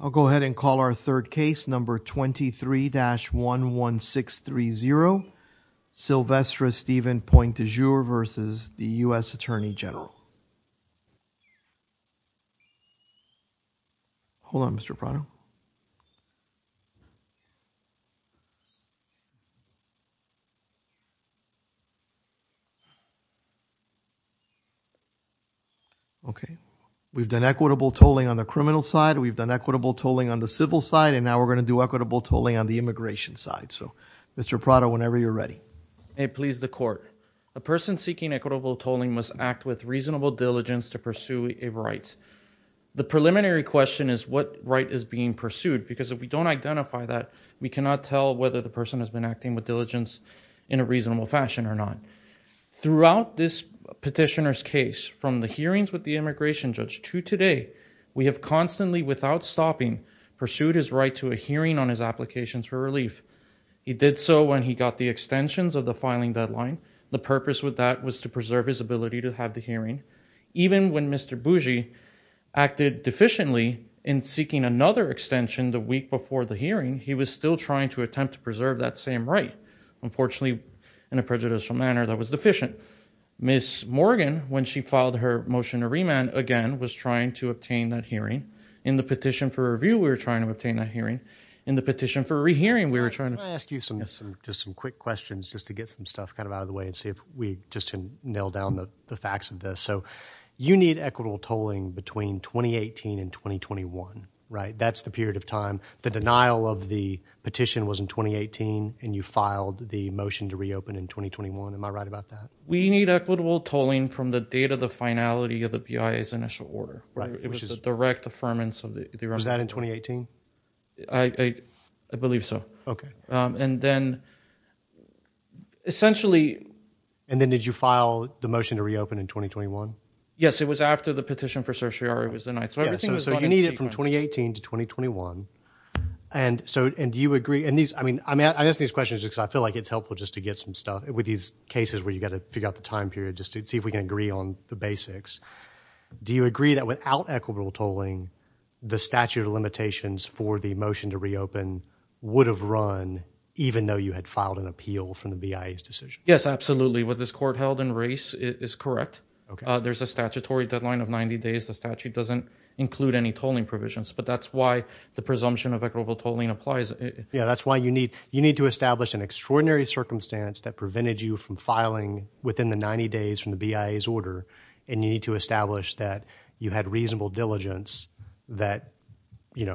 I'll go ahead and call our third case, number 23-11630, Sylvestre Stephen Point du Jour versus the U.S. Attorney General. Hold on Mr. Prado. Okay. We've done equitable tolling on the criminal side. We've done equitable tolling on the civil side. And now we're going to do equitable tolling on the immigration side. So Mr. Prado, whenever you're ready. May it please the court. A person seeking equitable tolling must act with reasonable diligence to pursue a right. The preliminary question is what right is being pursued, because if we don't identify that, we cannot tell whether the person has been acting with diligence in a reasonable fashion or not. Throughout this petitioner's case, from the hearings with the immigration judge to today, we have constantly, without stopping, pursued his right to a hearing on his applications for relief. He did so when he got the extensions of the filing deadline. The purpose with that was to preserve his ability to have the hearing. Even when Mr. Bougie acted deficiently in seeking another extension the week before the hearing, he was still trying to attempt to preserve that same right. Unfortunately, in a prejudicial manner, that was deficient. Ms. Morgan, when she filed her motion to remand, again, was trying to obtain that hearing. In the petition for review, we were trying to obtain that hearing. Can I ask you some quick questions just to get some stuff out of the way and see if we can nail down the facts of this? You need equitable tolling between 2018 and 2021, right? That's the period of time. The denial of the petition was in 2018, and you filed the motion to reopen in 2021. Am I right about that? We need equitable tolling from the date of the finality of the BIA's initial order. It was a direct affirmance. Was that in 2018? I believe so. Then did you file the motion to reopen in 2021? Yes, it was after the petition for certiorari was denied. You need it from 2018 to 2021. I'm asking these questions because I feel like it's helpful just to get some stuff with these cases where you've got to figure out the time period just to see if we can agree on the basics. Do you agree that without equitable tolling, the statute of limitations for the motion to reopen would have run even though you had filed an appeal from the BIA's decision? Yes, absolutely. What this court held in race is correct. There's a statutory deadline of 90 days. The statute doesn't include any tolling provisions, but that's why the presumption of equitable tolling applies. That's why you need to establish an extraordinary circumstance that prevented you from filing within the 90 days from the BIA's order. You need to establish that you had reasonable diligence, that you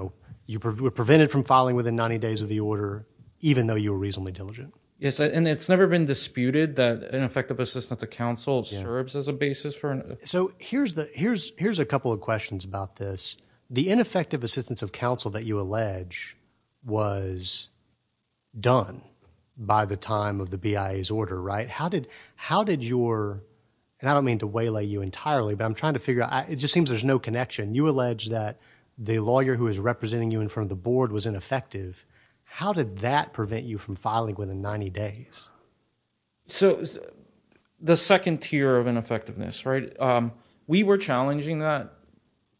were prevented from filing within 90 days of the order, even though you were reasonably diligent. It's never been disputed that ineffective assistance of counsel serves as a basis. Here's a couple of questions about this. The ineffective assistance of counsel that you allege was done by the time of the BIA's order, right? How did your – and I don't mean to waylay you entirely, but I'm trying to figure out – it just seems there's no connection. You allege that the lawyer who is representing you in front of the board was ineffective. How did that prevent you from filing within 90 days? So the second tier of ineffectiveness, right? We were challenging that,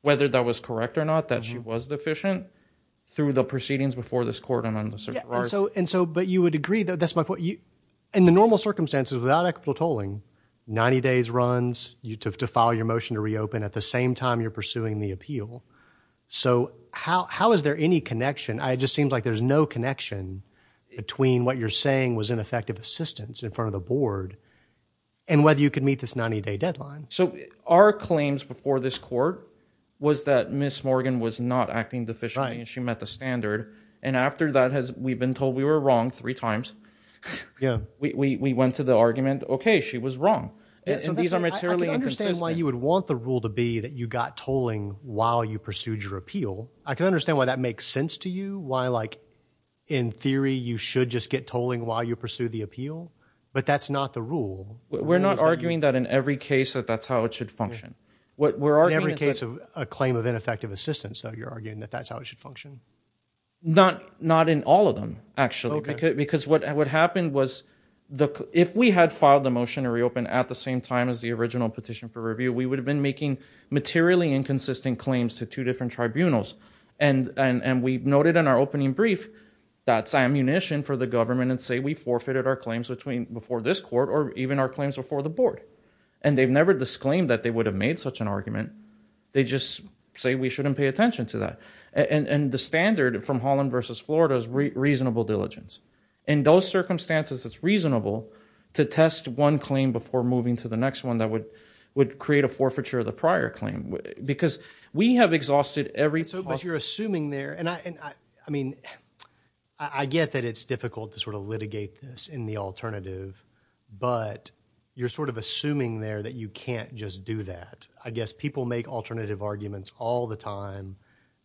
whether that was correct or not, that she was deficient through the proceedings before this court and on the circuit board. But you would agree that – that's my point. In the normal circumstances without equitable tolling, 90 days runs, you have to file your motion to reopen at the same time you're pursuing the appeal. So how is there any connection? It just seems like there's no connection between what you're saying was ineffective assistance in front of the board and whether you could meet this 90-day deadline. So our claims before this court was that Ms. Morgan was not acting deficiently and she met the standard. And after that, we've been told we were wrong three times. We went to the argument, okay, she was wrong. And these are materially inconsistent. I can understand why you would want the rule to be that you got tolling while you pursued your appeal. I can understand why that makes sense to you, why like in theory you should just get tolling while you pursue the appeal. But that's not the rule. We're not arguing that in every case that that's how it should function. In every case of a claim of ineffective assistance, though, you're arguing that that's how it should function? Not in all of them, actually. Because what happened was if we had filed the motion to reopen at the same time as the original petition for review, we would have been making materially inconsistent claims to two different tribunals. And we noted in our opening brief that's ammunition for the government and say we forfeited our claims before this court or even our claims before the board. And they've never disclaimed that they would have made such an argument. They just say we shouldn't pay attention to that. And the standard from Holland versus Florida is reasonable diligence. In those circumstances, it's reasonable to test one claim before moving to the next one that would create a forfeiture of the prior claim. Because we have exhausted every clause. But you're assuming there, and I mean, I get that it's difficult to sort of litigate this in the alternative. But you're sort of assuming there that you can't just do that. I guess people make alternative arguments all the time.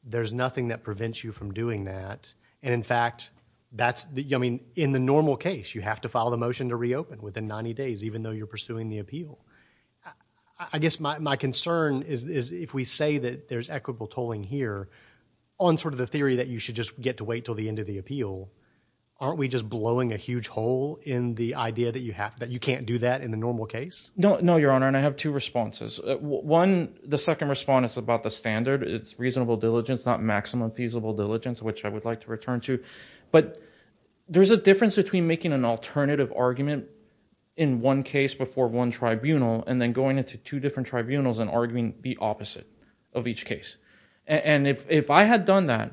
There's nothing that prevents you from doing that. And in fact, that's, I mean, in the normal case, you have to file the motion to reopen within 90 days even though you're pursuing the appeal. I guess my concern is if we say that there's equitable tolling here on sort of the theory that you should just get to wait till the end of the appeal, aren't we just blowing a huge hole in the idea that you can't do that in the normal case? No, Your Honor, and I have two responses. One, the second response is about the standard. It's reasonable diligence, not maximum feasible diligence, which I would like to return to. But there's a difference between making an alternative argument in one case before one tribunal and then going into two different tribunals and arguing the opposite of each case. And if I had done that,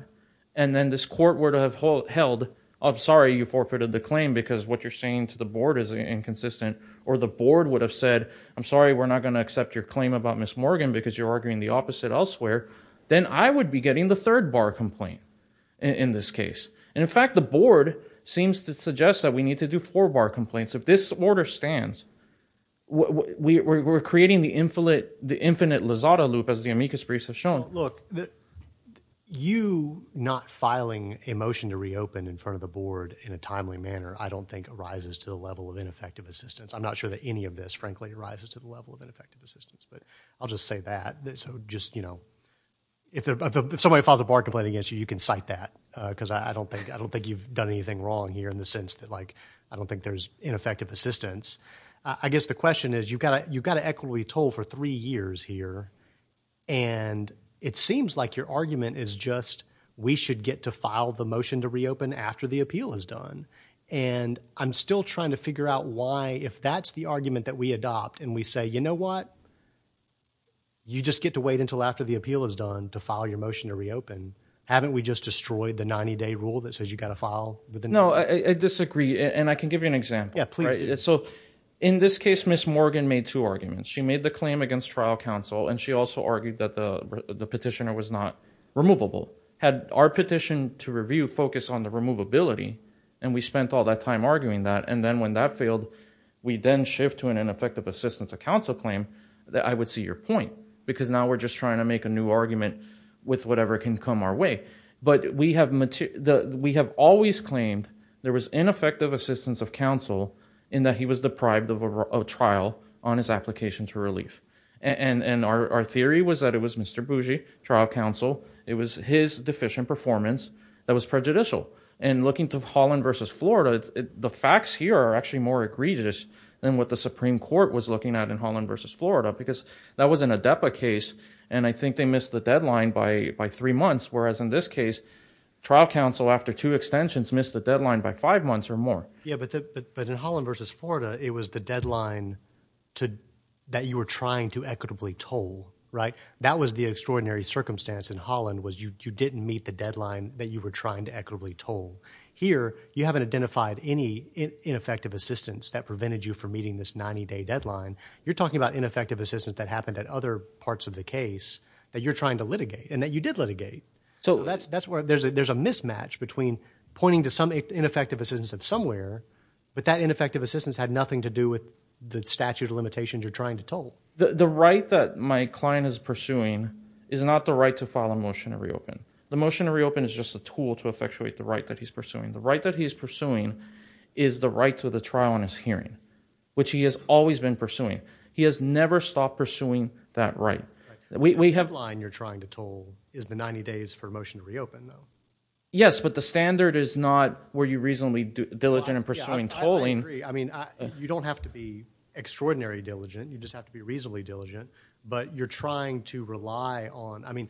and then this court were to have held, I'm sorry, you forfeited the claim because what you're saying to the board is inconsistent. Or the board would have said, I'm sorry, we're not going to accept your claim about Ms. Morgan because you're arguing the opposite elsewhere. Then I would be getting the third bar complaint in this case. And in fact, the board seems to suggest that we need to do four bar complaints. If this order stands, we're creating the infinite Lozada loop as the amicus briefs have shown. Look, you not filing a motion to reopen in front of the board in a timely manner I don't think rises to the level of ineffective assistance. I'm not sure that any of this, frankly, rises to the level of ineffective assistance. But I'll just say that. If somebody files a bar complaint against you, you can cite that. Because I don't think you've done anything wrong here in the sense that I don't think there's ineffective assistance. I guess the question is, you've got an equity toll for three years here. And it seems like your argument is just we should get to file the motion to reopen after the appeal is done. And I'm still trying to figure out why, if that's the argument that we adopt, and we say, you know what? You just get to wait until after the appeal is done to file your motion to reopen. Haven't we just destroyed the 90-day rule that says you've got to file within 90 days? No, I disagree. And I can give you an example. Yeah, please do. So in this case, Ms. Morgan made two arguments. She made the claim against trial counsel, and she also argued that the petitioner was not removable. Had our petition to review focused on the removability, and we spent all that time arguing that, and then when that failed, we then shift to an ineffective assistance of counsel claim, I would see your point. Because now we're just trying to make a new argument with whatever can come our way. But we have always claimed there was ineffective assistance of counsel in that he was deprived of a trial on his application to relief. And our theory was that it was Mr. Bougie, trial counsel. It was his deficient performance that was prejudicial. And looking to Holland v. Florida, the facts here are actually more egregious than what the Supreme Court was looking at in Holland v. Florida because that was an ADEPA case, and I think they missed the deadline by three months, whereas in this case, trial counsel after two extensions missed the deadline by five months or more. Yeah, but in Holland v. Florida, it was the deadline that you were trying to equitably toll, right? That was the extraordinary circumstance in Holland was you didn't meet the deadline that you were trying to equitably toll. Here, you haven't identified any ineffective assistance that prevented you from meeting this 90-day deadline. You're talking about ineffective assistance that happened at other parts of the case that you're trying to litigate and that you did litigate. So that's where there's a mismatch between pointing to some ineffective assistance of somewhere, but that ineffective assistance had nothing to do with the statute of limitations you're trying to toll. The right that my client is pursuing is not the right to file a motion to reopen. The motion to reopen is just a tool to effectuate the right that he's pursuing. The right that he's pursuing is the right to the trial in his hearing, which he has always been pursuing. He has never stopped pursuing that right. The deadline you're trying to toll is the 90 days for a motion to reopen, though. Yes, but the standard is not were you reasonably diligent in pursuing tolling. I agree. I mean, you don't have to be extraordinarily diligent. You just have to be reasonably diligent, but you're trying to rely on—I mean,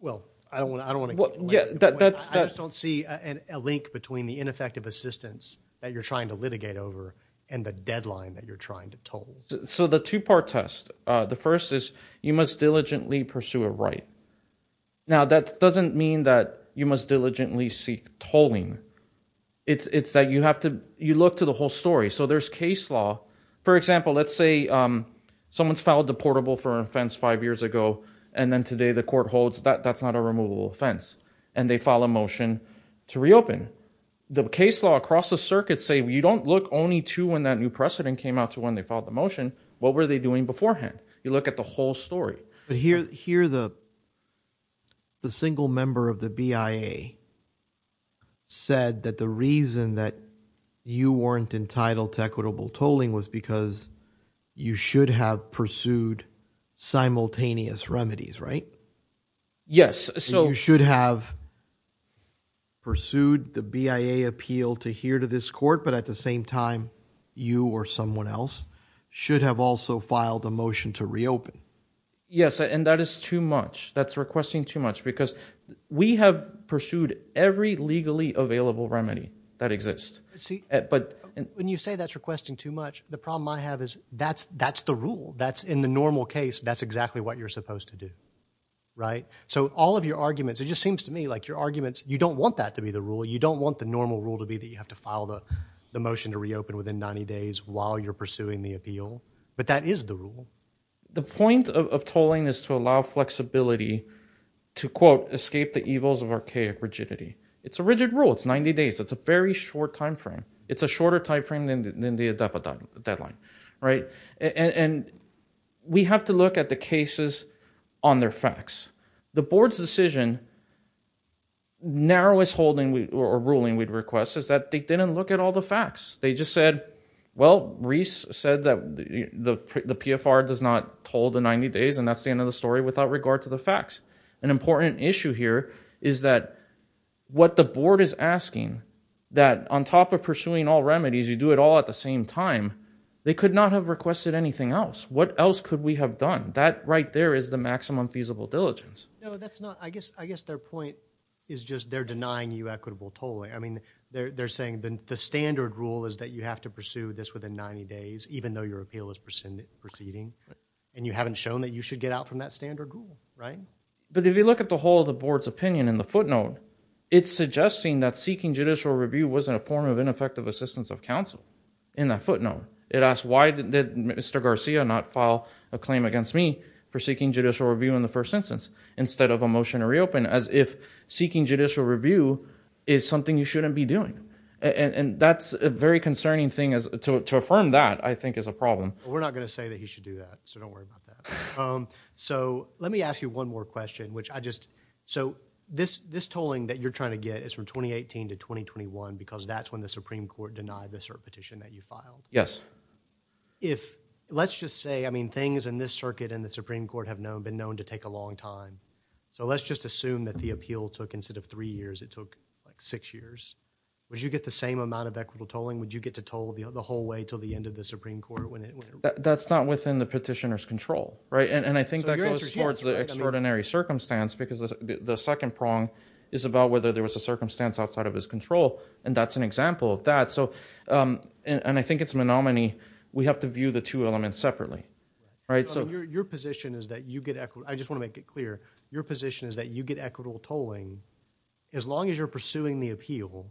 well, I don't want to— I just don't see a link between the ineffective assistance that you're trying to litigate over and the deadline that you're trying to toll. So the two-part test, the first is you must diligently pursue a right. Now, that doesn't mean that you must diligently seek tolling. It's that you have to—you look to the whole story. So there's case law. For example, let's say someone's filed a portable for an offense five years ago, and then today the court holds that that's not a removable offense, and they file a motion to reopen. The case law across the circuit say you don't look only to when that new precedent came out to when they filed the motion. What were they doing beforehand? You look at the whole story. But here the single member of the BIA said that the reason that you weren't entitled to equitable tolling was because you should have pursued simultaneous remedies, right? Yes, so— You should have pursued the BIA appeal to hear to this court, but at the same time you or someone else should have also filed a motion to reopen. Yes, and that is too much. That's requesting too much because we have pursued every legally available remedy that exists. See, when you say that's requesting too much, the problem I have is that's the rule. That's in the normal case. That's exactly what you're supposed to do, right? So all of your arguments, it just seems to me like your arguments, you don't want that to be the rule. You don't want the normal rule to be that you have to file the motion to reopen within 90 days while you're pursuing the appeal, but that is the rule. The point of tolling is to allow flexibility to, quote, escape the evils of archaic rigidity. It's a rigid rule. It's 90 days. It's a very short time frame. It's a shorter time frame than the ADAPA deadline, right? And we have to look at the cases on their facts. The board's decision, narrowest holding or ruling we'd request is that they didn't look at all the facts. They just said, well, Reese said that the PFR does not toll the 90 days, and that's the end of the story without regard to the facts. An important issue here is that what the board is asking, that on top of pursuing all remedies, you do it all at the same time, they could not have requested anything else. What else could we have done? That right there is the maximum feasible diligence. No, that's not. I guess their point is just they're denying you equitable tolling. I mean, they're saying the standard rule is that you have to pursue this within 90 days, even though your appeal is proceeding, and you haven't shown that you should get out from that standard rule, right? But if you look at the whole of the board's opinion in the footnote, it's suggesting that seeking judicial review wasn't a form of ineffective assistance of counsel in that footnote. It asks why did Mr. Garcia not file a claim against me for seeking judicial review in the first instance instead of a motion to reopen, as if seeking judicial review is something you shouldn't be doing, and that's a very concerning thing. To affirm that, I think, is a problem. We're not going to say that he should do that, so don't worry about that. So let me ask you one more question, which I just – so this tolling that you're trying to get is from 2018 to 2021 because that's when the Supreme Court denied the cert petition that you filed. Yes. If – let's just say, I mean, things in this circuit and the Supreme Court have been known to take a long time. So let's just assume that the appeal took – instead of three years, it took six years. Would you get the same amount of equitable tolling? Would you get to toll the whole way until the end of the Supreme Court? That's not within the petitioner's control, right? And I think that goes towards the extraordinary circumstance because the second prong is about whether there was a circumstance outside of his control, and that's an example of that. So – and I think it's a menominee. We have to view the two elements separately, right? So your position is that you get – I just want to make it clear. Your position is that you get equitable tolling as long as you're pursuing the appeal.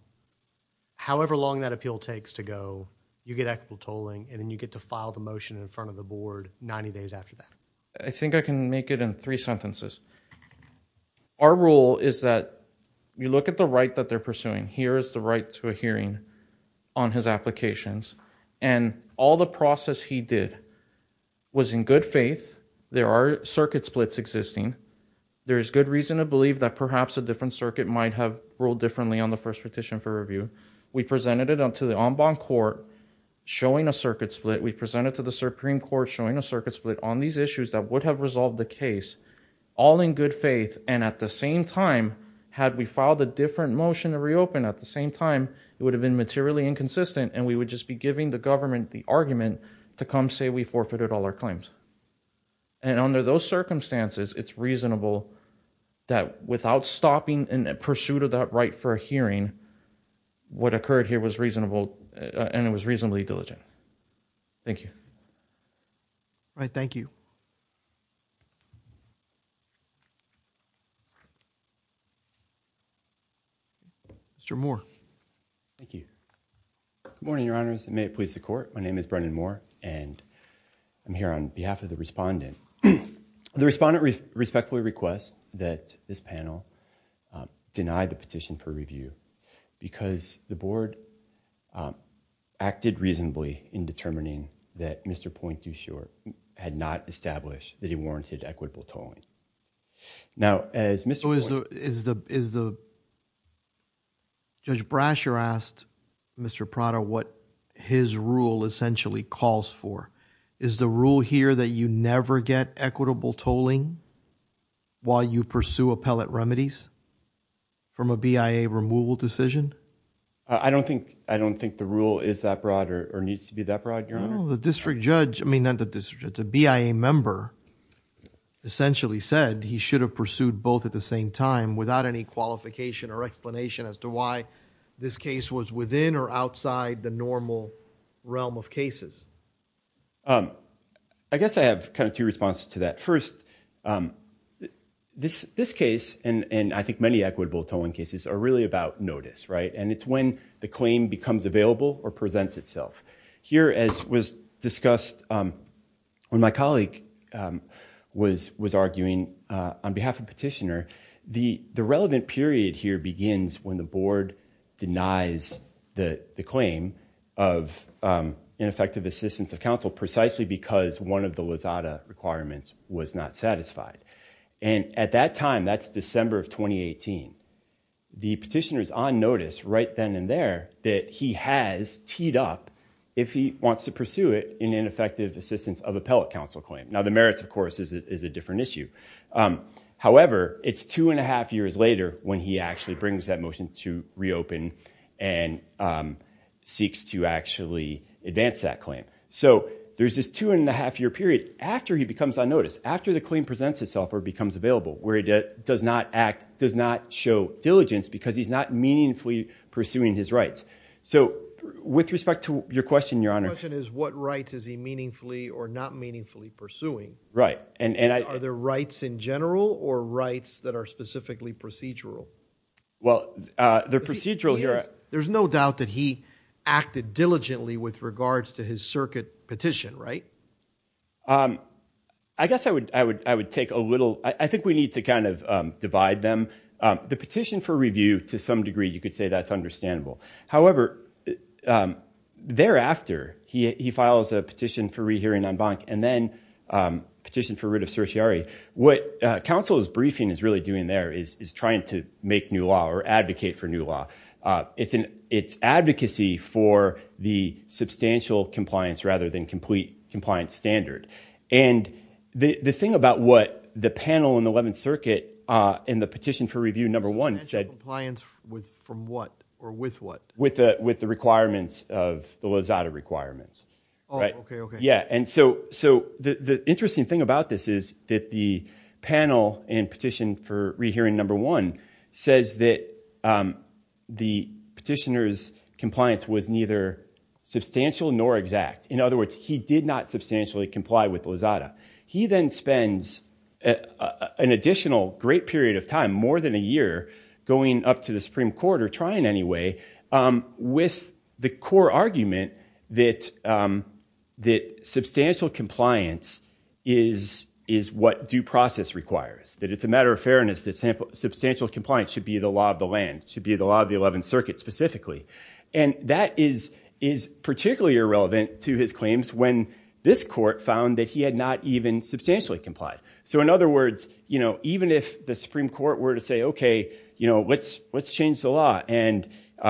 However long that appeal takes to go, you get equitable tolling, and then you get to file the motion in front of the board 90 days after that. I think I can make it in three sentences. Our rule is that you look at the right that they're pursuing. Here is the right to a hearing on his applications, and all the process he did was in good faith. There are circuit splits existing. There is good reason to believe that perhaps a different circuit might have ruled differently on the first petition for review. We presented it to the en banc court showing a circuit split. We presented it to the Supreme Court showing a circuit split on these issues that would have resolved the case all in good faith, and at the same time, had we filed a different motion to reopen, at the same time, it would have been materially inconsistent, and we would just be giving the government the argument to come say we forfeited all our claims. And under those circumstances, it's reasonable that without stopping in pursuit of that right for a hearing, what occurred here was reasonable, and it was reasonably diligent. Thank you. All right, thank you. Mr. Moore. Thank you. Good morning, Your Honors, and may it please the court. My name is Brendan Moore, and I'm here on behalf of the respondent. The respondent respectfully requests that this panel deny the petition for review, because the board acted reasonably in determining that Mr. Point, you sure had not established that he warranted equitable tolling. Now, as Mr. Is the Judge Brasher asked Mr. Prada what his rule essentially calls for? Is the rule here that you never get equitable tolling while you pursue appellate remedies from a BIA removal decision? I don't think the rule is that broad or needs to be that broad, Your Honor. No, the district judge, I mean, the BIA member essentially said he should have pursued both at the same time without any qualification or explanation as to why this case was within or outside the normal realm of cases. I guess I have kind of two responses to that. First, this case, and I think many equitable tolling cases, are really about notice, right? And it's when the claim becomes available or presents itself. Here, as was discussed when my colleague was arguing on behalf of petitioner, the relevant period here begins when the board denies the claim of ineffective assistance of counsel, precisely because one of the LAZADA requirements was not satisfied. And at that time, that's December of 2018. The petitioner is on notice right then and there that he has teed up if he wants to pursue it in ineffective assistance of appellate counsel claim. Now, the merits, of course, is a different issue. However, it's two and a half years later when he actually brings that motion to reopen and seeks to actually advance that claim. So there's this two and a half year period after he becomes on notice, after the claim presents itself or becomes available, where he does not act, does not show diligence because he's not meaningfully pursuing his rights. So with respect to your question, Your Honor. My question is what rights is he meaningfully or not meaningfully pursuing? Right. Are there rights in general or rights that are specifically procedural? Well, the procedural here… There's no doubt that he acted diligently with regards to his circuit petition, right? I guess I would take a little… I think we need to kind of divide them. The petition for review, to some degree, you could say that's understandable. However, thereafter, he files a petition for rehearing en banc and then a petition for writ of certiorari. What counsel's briefing is really doing there is trying to make new law or advocate for new law. It's advocacy for the substantial compliance rather than complete compliance standard. And the thing about what the panel in the Eleventh Circuit in the petition for review number one said… Substantial compliance from what or with what? With the requirements of the Lozada requirements. Oh, okay, okay. Yeah, and so the interesting thing about this is that the panel in petition for rehearing number one says that the petitioner's compliance was neither substantial nor exact. In other words, he did not substantially comply with Lozada. He then spends an additional great period of time, more than a year, going up to the Supreme Court or trying anyway, with the core argument that substantial compliance is what due process requires, that it's a matter of fairness that substantial compliance should be the law of the land, should be the law of the Eleventh Circuit specifically. And that is particularly irrelevant to his claims when this court found that he had not even substantially complied. So in other words, even if the Supreme Court were to say, okay, let's change the law and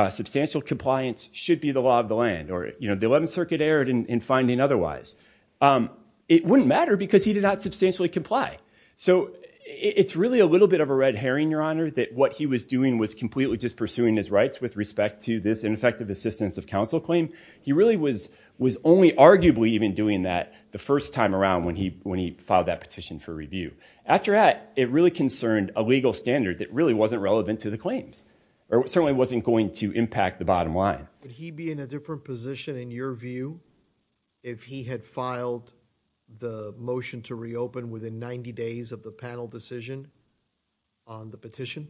substantial compliance should be the law of the land or the Eleventh Circuit erred in finding otherwise, it wouldn't matter because he did not substantially comply. So it's really a little bit of a red herring, Your Honor, that what he was doing was completely just pursuing his rights with respect to this ineffective assistance of counsel claim. He really was only arguably even doing that the first time around when he filed that petition for review. After that, it really concerned a legal standard that really wasn't relevant to the claims or certainly wasn't going to impact the bottom line. Would he be in a different position in your view if he had filed the motion to reopen within 90 days of the panel decision on the petition?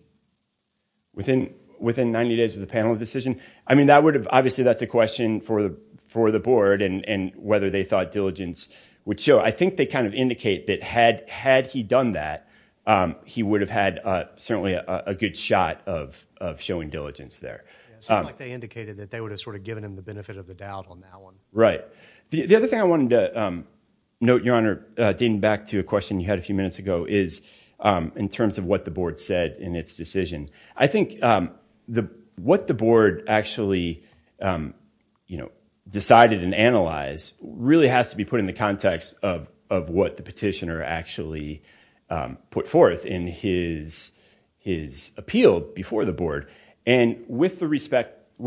Within 90 days of the panel decision? I mean, obviously, that's a question for the board and whether they thought diligence would show. I think they kind of indicate that had he done that, he would have had certainly a good shot of showing diligence there. It sounded like they indicated that they would have sort of given him the benefit of the doubt on that one. Right. The other thing I wanted to note, Your Honor, dating back to a question you had a few minutes ago is in terms of what the board said in its decision. I think what the board actually decided and analyzed really has to be put in the context of what the petitioner actually put forth in his appeal before the board. And with respect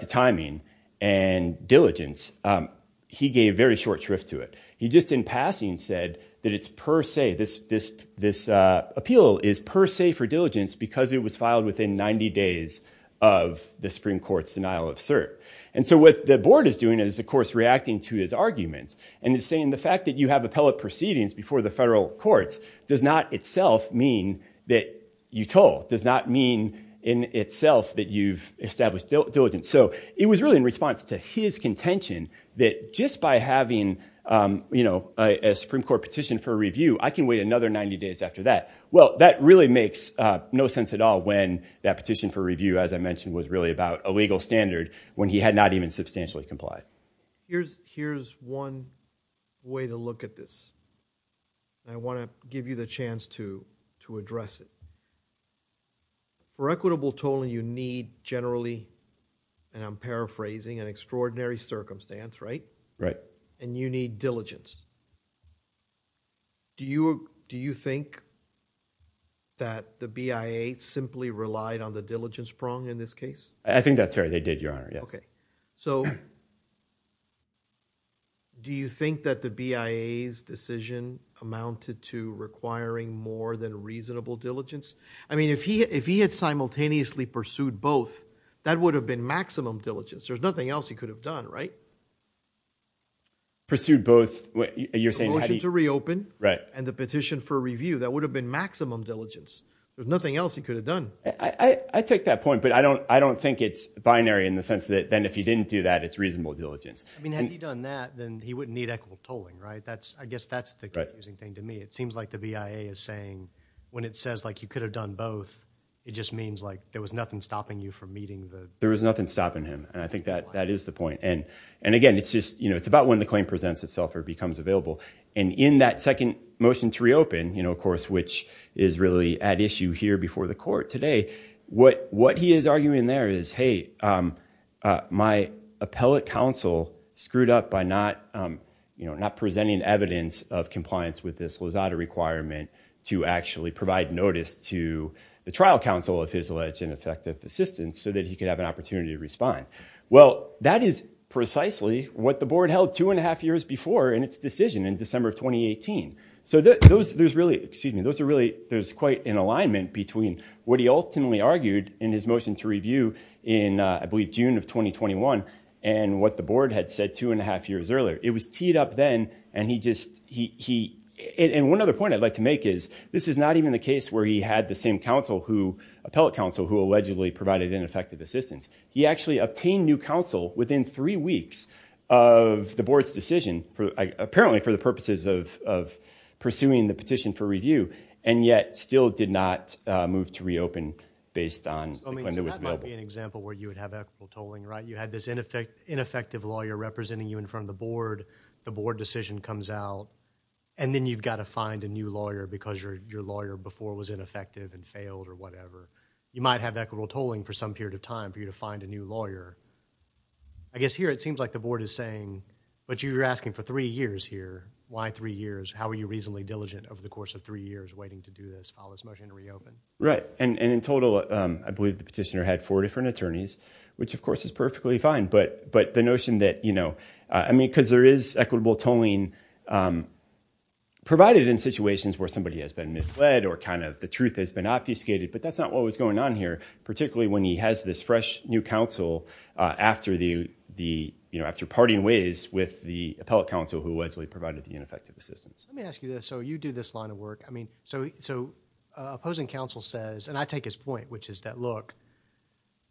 to timing and diligence, he gave very short shrift to it. He just in passing said that this appeal is per se for diligence because it was filed within 90 days of the Supreme Court's denial of cert. And so what the board is doing is, of course, reacting to his arguments and is saying the fact that you have appellate proceedings before the federal courts does not itself mean that you told, does not mean in itself that you've established diligence. So it was really in response to his contention that just by having, you know, a Supreme Court petition for review, I can wait another 90 days after that. Well, that really makes no sense at all when that petition for review, as I mentioned, was really about a legal standard when he had not even substantially complied. Here's one way to look at this. I want to give you the chance to address it. For equitable tolling, you need generally, and I'm paraphrasing, an extraordinary circumstance, right? Right. And you need diligence. Do you think that the BIA simply relied on the diligence prong in this case? I think that's right. They did, Your Honor, yes. Okay. So do you think that the BIA's decision amounted to requiring more than reasonable diligence? I mean, if he had simultaneously pursued both, that would have been maximum diligence. There's nothing else he could have done, right? Pursued both? The motion to reopen and the petition for review. That would have been maximum diligence. There's nothing else he could have done. I take that point, but I don't think it's binary in the sense that then if he didn't do that, it's reasonable diligence. I mean, had he done that, then he wouldn't need equitable tolling, right? I guess that's the confusing thing to me. It seems like the BIA is saying when it says you could have done both, it just means there was nothing stopping you from meeting the requirement. There was nothing stopping him, and I think that is the point. And, again, it's about when the claim presents itself or becomes available. And in that second motion to reopen, of course, which is really at issue here before the court today, what he is arguing there is, hey, my appellate counsel screwed up by not presenting evidence of compliance with this Lozada requirement to actually provide notice to the trial counsel of his alleged ineffective assistance so that he could have an opportunity to respond. Well, that is precisely what the board held two and a half years before in its decision in December of 2018. Excuse me. There's quite an alignment between what he ultimately argued in his motion to review in, I believe, June of 2021 and what the board had said two and a half years earlier. It was teed up then, and one other point I'd like to make is this is not even the case where he had the same appellate counsel who allegedly provided ineffective assistance. He actually obtained new counsel within three weeks of the board's decision, apparently for the purposes of pursuing the petition for review, and yet still did not move to reopen based on when it was available. So that might be an example where you would have equitable tolling, right? You had this ineffective lawyer representing you in front of the board. The board decision comes out, and then you've got to find a new lawyer because your lawyer before was ineffective and failed or whatever. You might have equitable tolling for some period of time for you to find a new lawyer. I guess here it seems like the board is saying, but you were asking for three years here. Why three years? How were you reasonably diligent over the course of three years waiting to do this while this motion reopened? Right. And in total, I believe the petitioner had four different attorneys, which of course is perfectly fine. But the notion that, you know, I mean, because there is equitable tolling provided in situations where somebody has been misled or kind of the truth has been obfuscated, but that's not what was going on here, particularly when he has this fresh new counsel after the, you know, after parting ways with the appellate counsel who allegedly provided the ineffective assistance. Let me ask you this. So you do this line of work. I mean, so opposing counsel says, and I take his point, which is that, look,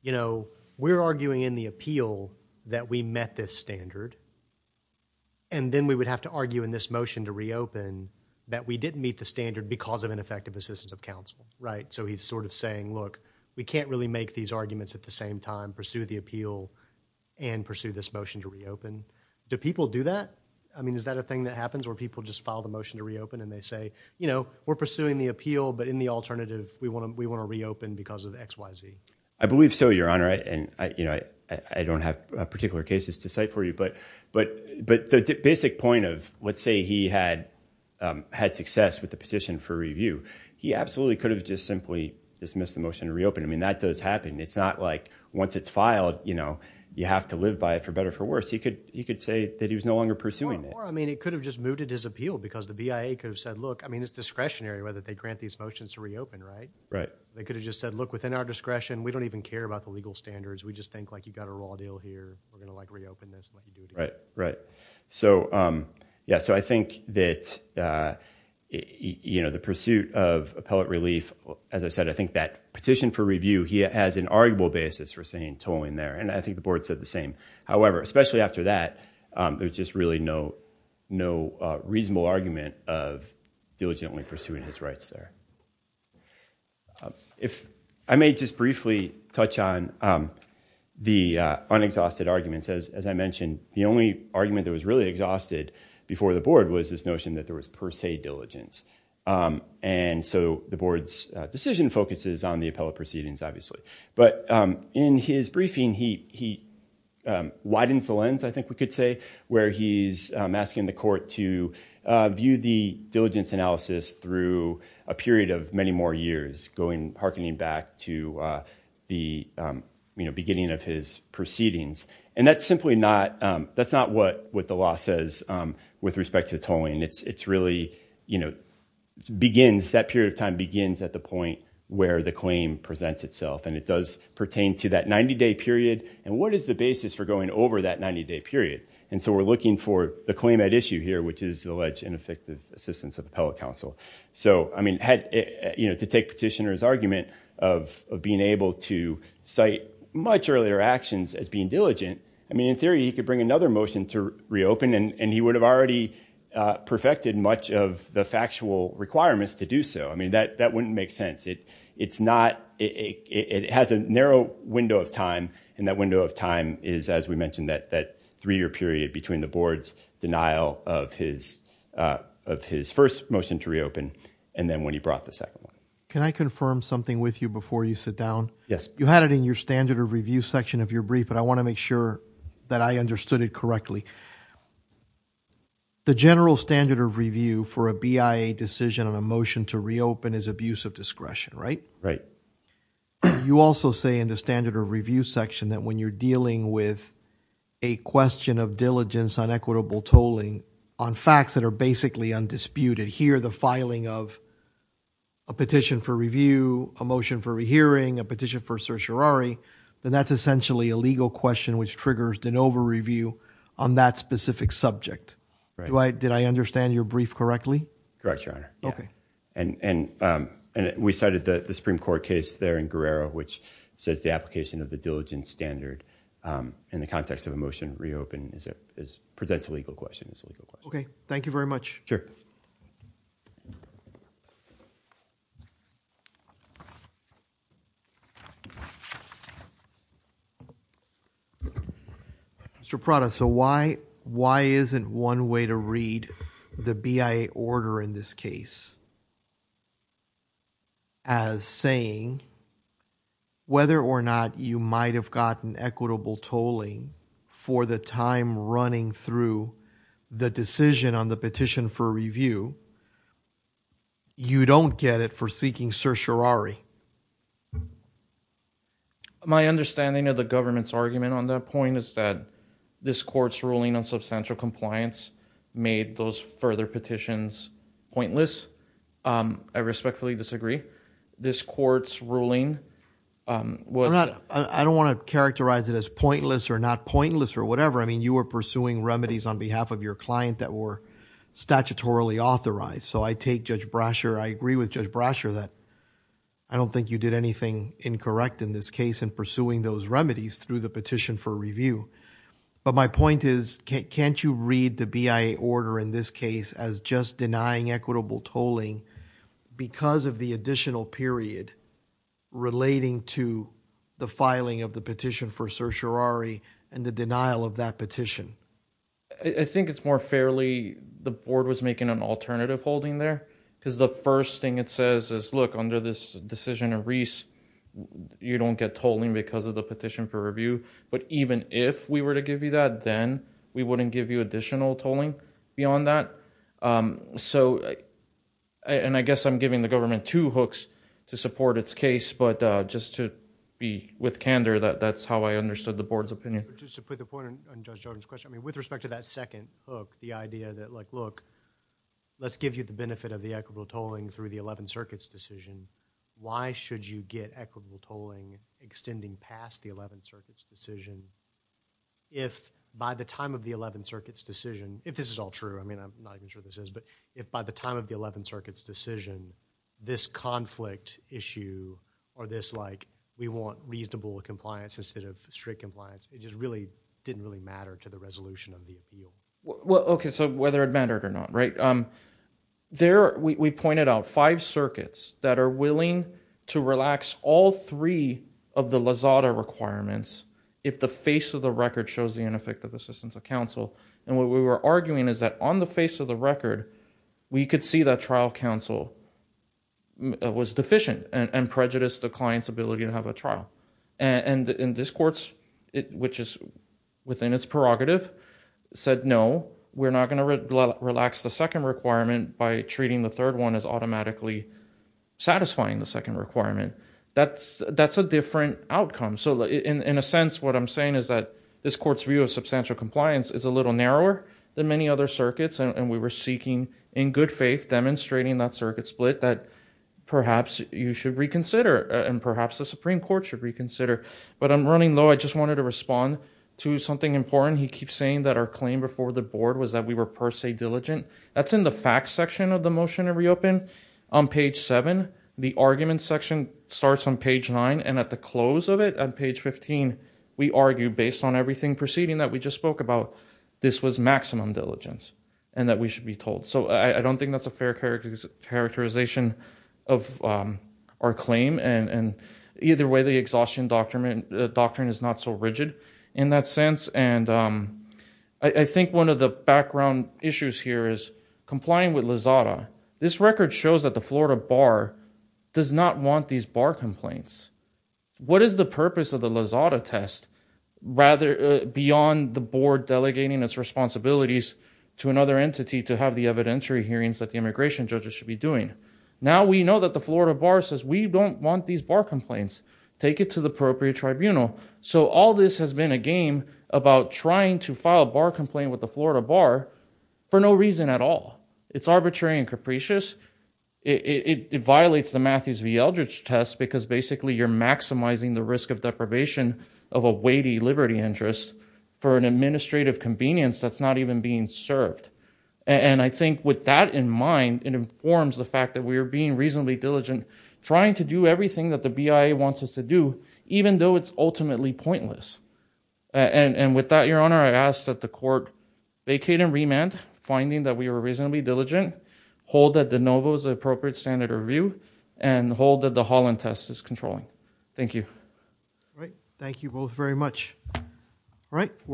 you know, we're arguing in the appeal that we met this standard, and then we would have to argue in this motion to reopen that we didn't meet the standard because of ineffective assistance of counsel, right? So he's sort of saying, look, we can't really make these arguments at the same time, we have to pursue the appeal and pursue this motion to reopen. Do people do that? I mean, is that a thing that happens where people just file the motion to reopen and they say, you know, we're pursuing the appeal, but in the alternative, we want to reopen because of X, Y, Z? I believe so, Your Honor, and, you know, I don't have particular cases to cite for you, but the basic point of let's say he had success with the petition for review, he absolutely could have just simply dismissed the motion to reopen. I mean, that does happen. It's not like once it's filed, you know, you have to live by it for better or for worse. He could say that he was no longer pursuing it. Or, I mean, he could have just mooted his appeal because the BIA could have said, look, I mean, it's discretionary whether they grant these motions to reopen, right? Right. They could have just said, look, within our discretion, we don't even care about the legal standards, we just think, like, you've got a raw deal here, we're going to, like, reopen this. Right, right. So, yeah, so I think that, you know, the pursuit of appellate relief, as I said, I think that petition for review, he has an arguable basis for saying tolling there. And I think the board said the same. However, especially after that, there was just really no reasonable argument of diligently pursuing his rights there. I may just briefly touch on the unexhausted arguments. As I mentioned, the only argument that was really exhausted before the board was this notion that there was per se diligence. And so the board's decision focuses on the appellate proceedings, obviously. But in his briefing, he widens the lens, I think we could say, where he's asking the court to view the diligence analysis through a period of many more years, hearkening back to the beginning of his proceedings. And that's simply not what the law says with respect to tolling. It's really, you know, begins, that period of time begins at the point where the claim presents itself. And it does pertain to that 90-day period. And what is the basis for going over that 90-day period? And so we're looking for the claim at issue here, which is alleged ineffective assistance of appellate counsel. So, I mean, to take petitioner's argument of being able to cite much earlier actions as being diligent, I mean, in theory, he could bring another motion to reopen, and he would have already perfected much of the factual requirements to do so. I mean, that wouldn't make sense. It's not – it has a narrow window of time, and that window of time is, as we mentioned, that three-year period between the board's denial of his first motion to reopen and then when he brought the second one. Can I confirm something with you before you sit down? Yes. You had it in your standard of review section of your brief, but I want to make sure that I understood it correctly. The general standard of review for a BIA decision on a motion to reopen is abuse of discretion, right? Right. You also say in the standard of review section that when you're dealing with a question of diligence on equitable tolling on facts that are basically undisputed, here the filing of a petition for review, a motion for rehearing, a petition for certiorari, then that's essentially a legal question which triggers de novo review on that specific subject. Right. Did I understand your brief correctly? Correct, Your Honor. Okay. And we cited the Supreme Court case there in Guerrero which says the application of the diligence standard in the context of a motion to reopen presents a legal question. Okay. Thank you very much. Sure. Mr. Prada, so why isn't one way to read the BIA order in this case as saying whether or not you might have gotten equitable tolling for the time running through the decision on the petition for review, you don't get it for seeking certiorari? My understanding of the government's argument on that point is that this court's ruling on substantial compliance made those further petitions pointless. I respectfully disagree. This court's ruling was that... I don't want to characterize it as pointless or not pointless or whatever. I mean you were pursuing remedies on behalf of your client that were statutorily authorized. So I take Judge Brasher, I agree with Judge Brasher that I don't think you did anything incorrect in this case in pursuing those remedies through the petition for review. But my point is can't you read the BIA order in this case as just denying equitable tolling because of the additional period relating to the filing of the petition for certiorari and the denial of that petition? I think it's more fairly the board was making an alternative holding there because the first thing it says is look, under this decision of Reese, you don't get tolling because of the petition for review. But even if we were to give you that, then we wouldn't give you additional tolling beyond that. And I guess I'm giving the government two hooks to support its case, but just to be with candor that that's how I understood the board's opinion. Just to put the point on Judge Jordan's question, with respect to that second hook, the idea that like look, let's give you the benefit of the equitable tolling through the Eleventh Circuit's decision. Why should you get equitable tolling extending past the Eleventh Circuit's decision if by the time of the Eleventh Circuit's decision, if this is all true, I mean I'm not even sure this is, but if by the time of the Eleventh Circuit's decision, this conflict issue or this like we want reasonable compliance instead of strict compliance, it just really didn't really matter to the resolution of the appeal. Well, okay, so whether it mattered or not, right? There we pointed out five circuits that are willing to relax all three of the Lozada requirements if the face of the record shows the ineffective assistance of counsel. And what we were arguing is that on the face of the record, we could see that trial counsel was deficient and prejudiced the client's ability to have a trial. And this court, which is within its prerogative, said, no, we're not going to relax the second requirement by treating the third one as automatically satisfying the second requirement. That's a different outcome. So in a sense, what I'm saying is that this court's view of substantial compliance is a little narrower than many other circuits, and we were seeking in good faith demonstrating that circuit split that perhaps you should reconsider and perhaps the Supreme Court should reconsider. But I'm running low. I just wanted to respond to something important. He keeps saying that our claim before the board was that we were per se diligent. That's in the facts section of the motion to reopen. On page seven, the argument section starts on page nine. And at the close of it, on page 15, we argue based on everything proceeding that we just spoke about, this was maximum diligence and that we should be told. So I don't think that's a fair characterization of our claim. And either way, the exhaustion doctrine is not so rigid in that sense. And I think one of the background issues here is complying with LAZADA. This record shows that the Florida bar does not want these bar complaints. What is the purpose of the LAZADA test, rather beyond the board delegating its responsibilities to another entity to have the evidentiary hearings that the immigration judges should be doing? Now we know that the Florida bar says we don't want these bar complaints. Take it to the appropriate tribunal. So all this has been a game about trying to file a bar complaint with the Florida bar for no reason at all. It's arbitrary and capricious. It violates the Matthews v. Eldridge test because basically you're maximizing the risk of deprivation of a weighty liberty interest for an administrative convenience that's not even being served. And I think with that in mind, it informs the fact that we are being reasonably diligent, trying to do everything that the BIA wants us to do, even though it's ultimately pointless. And with that, Your Honor, I ask that the court vacate and remand, finding that we were reasonably diligent, hold that the NOVO is an appropriate standard of review, and hold that the Holland test is controlling. Thank you. All right. Thank you both very much. All right.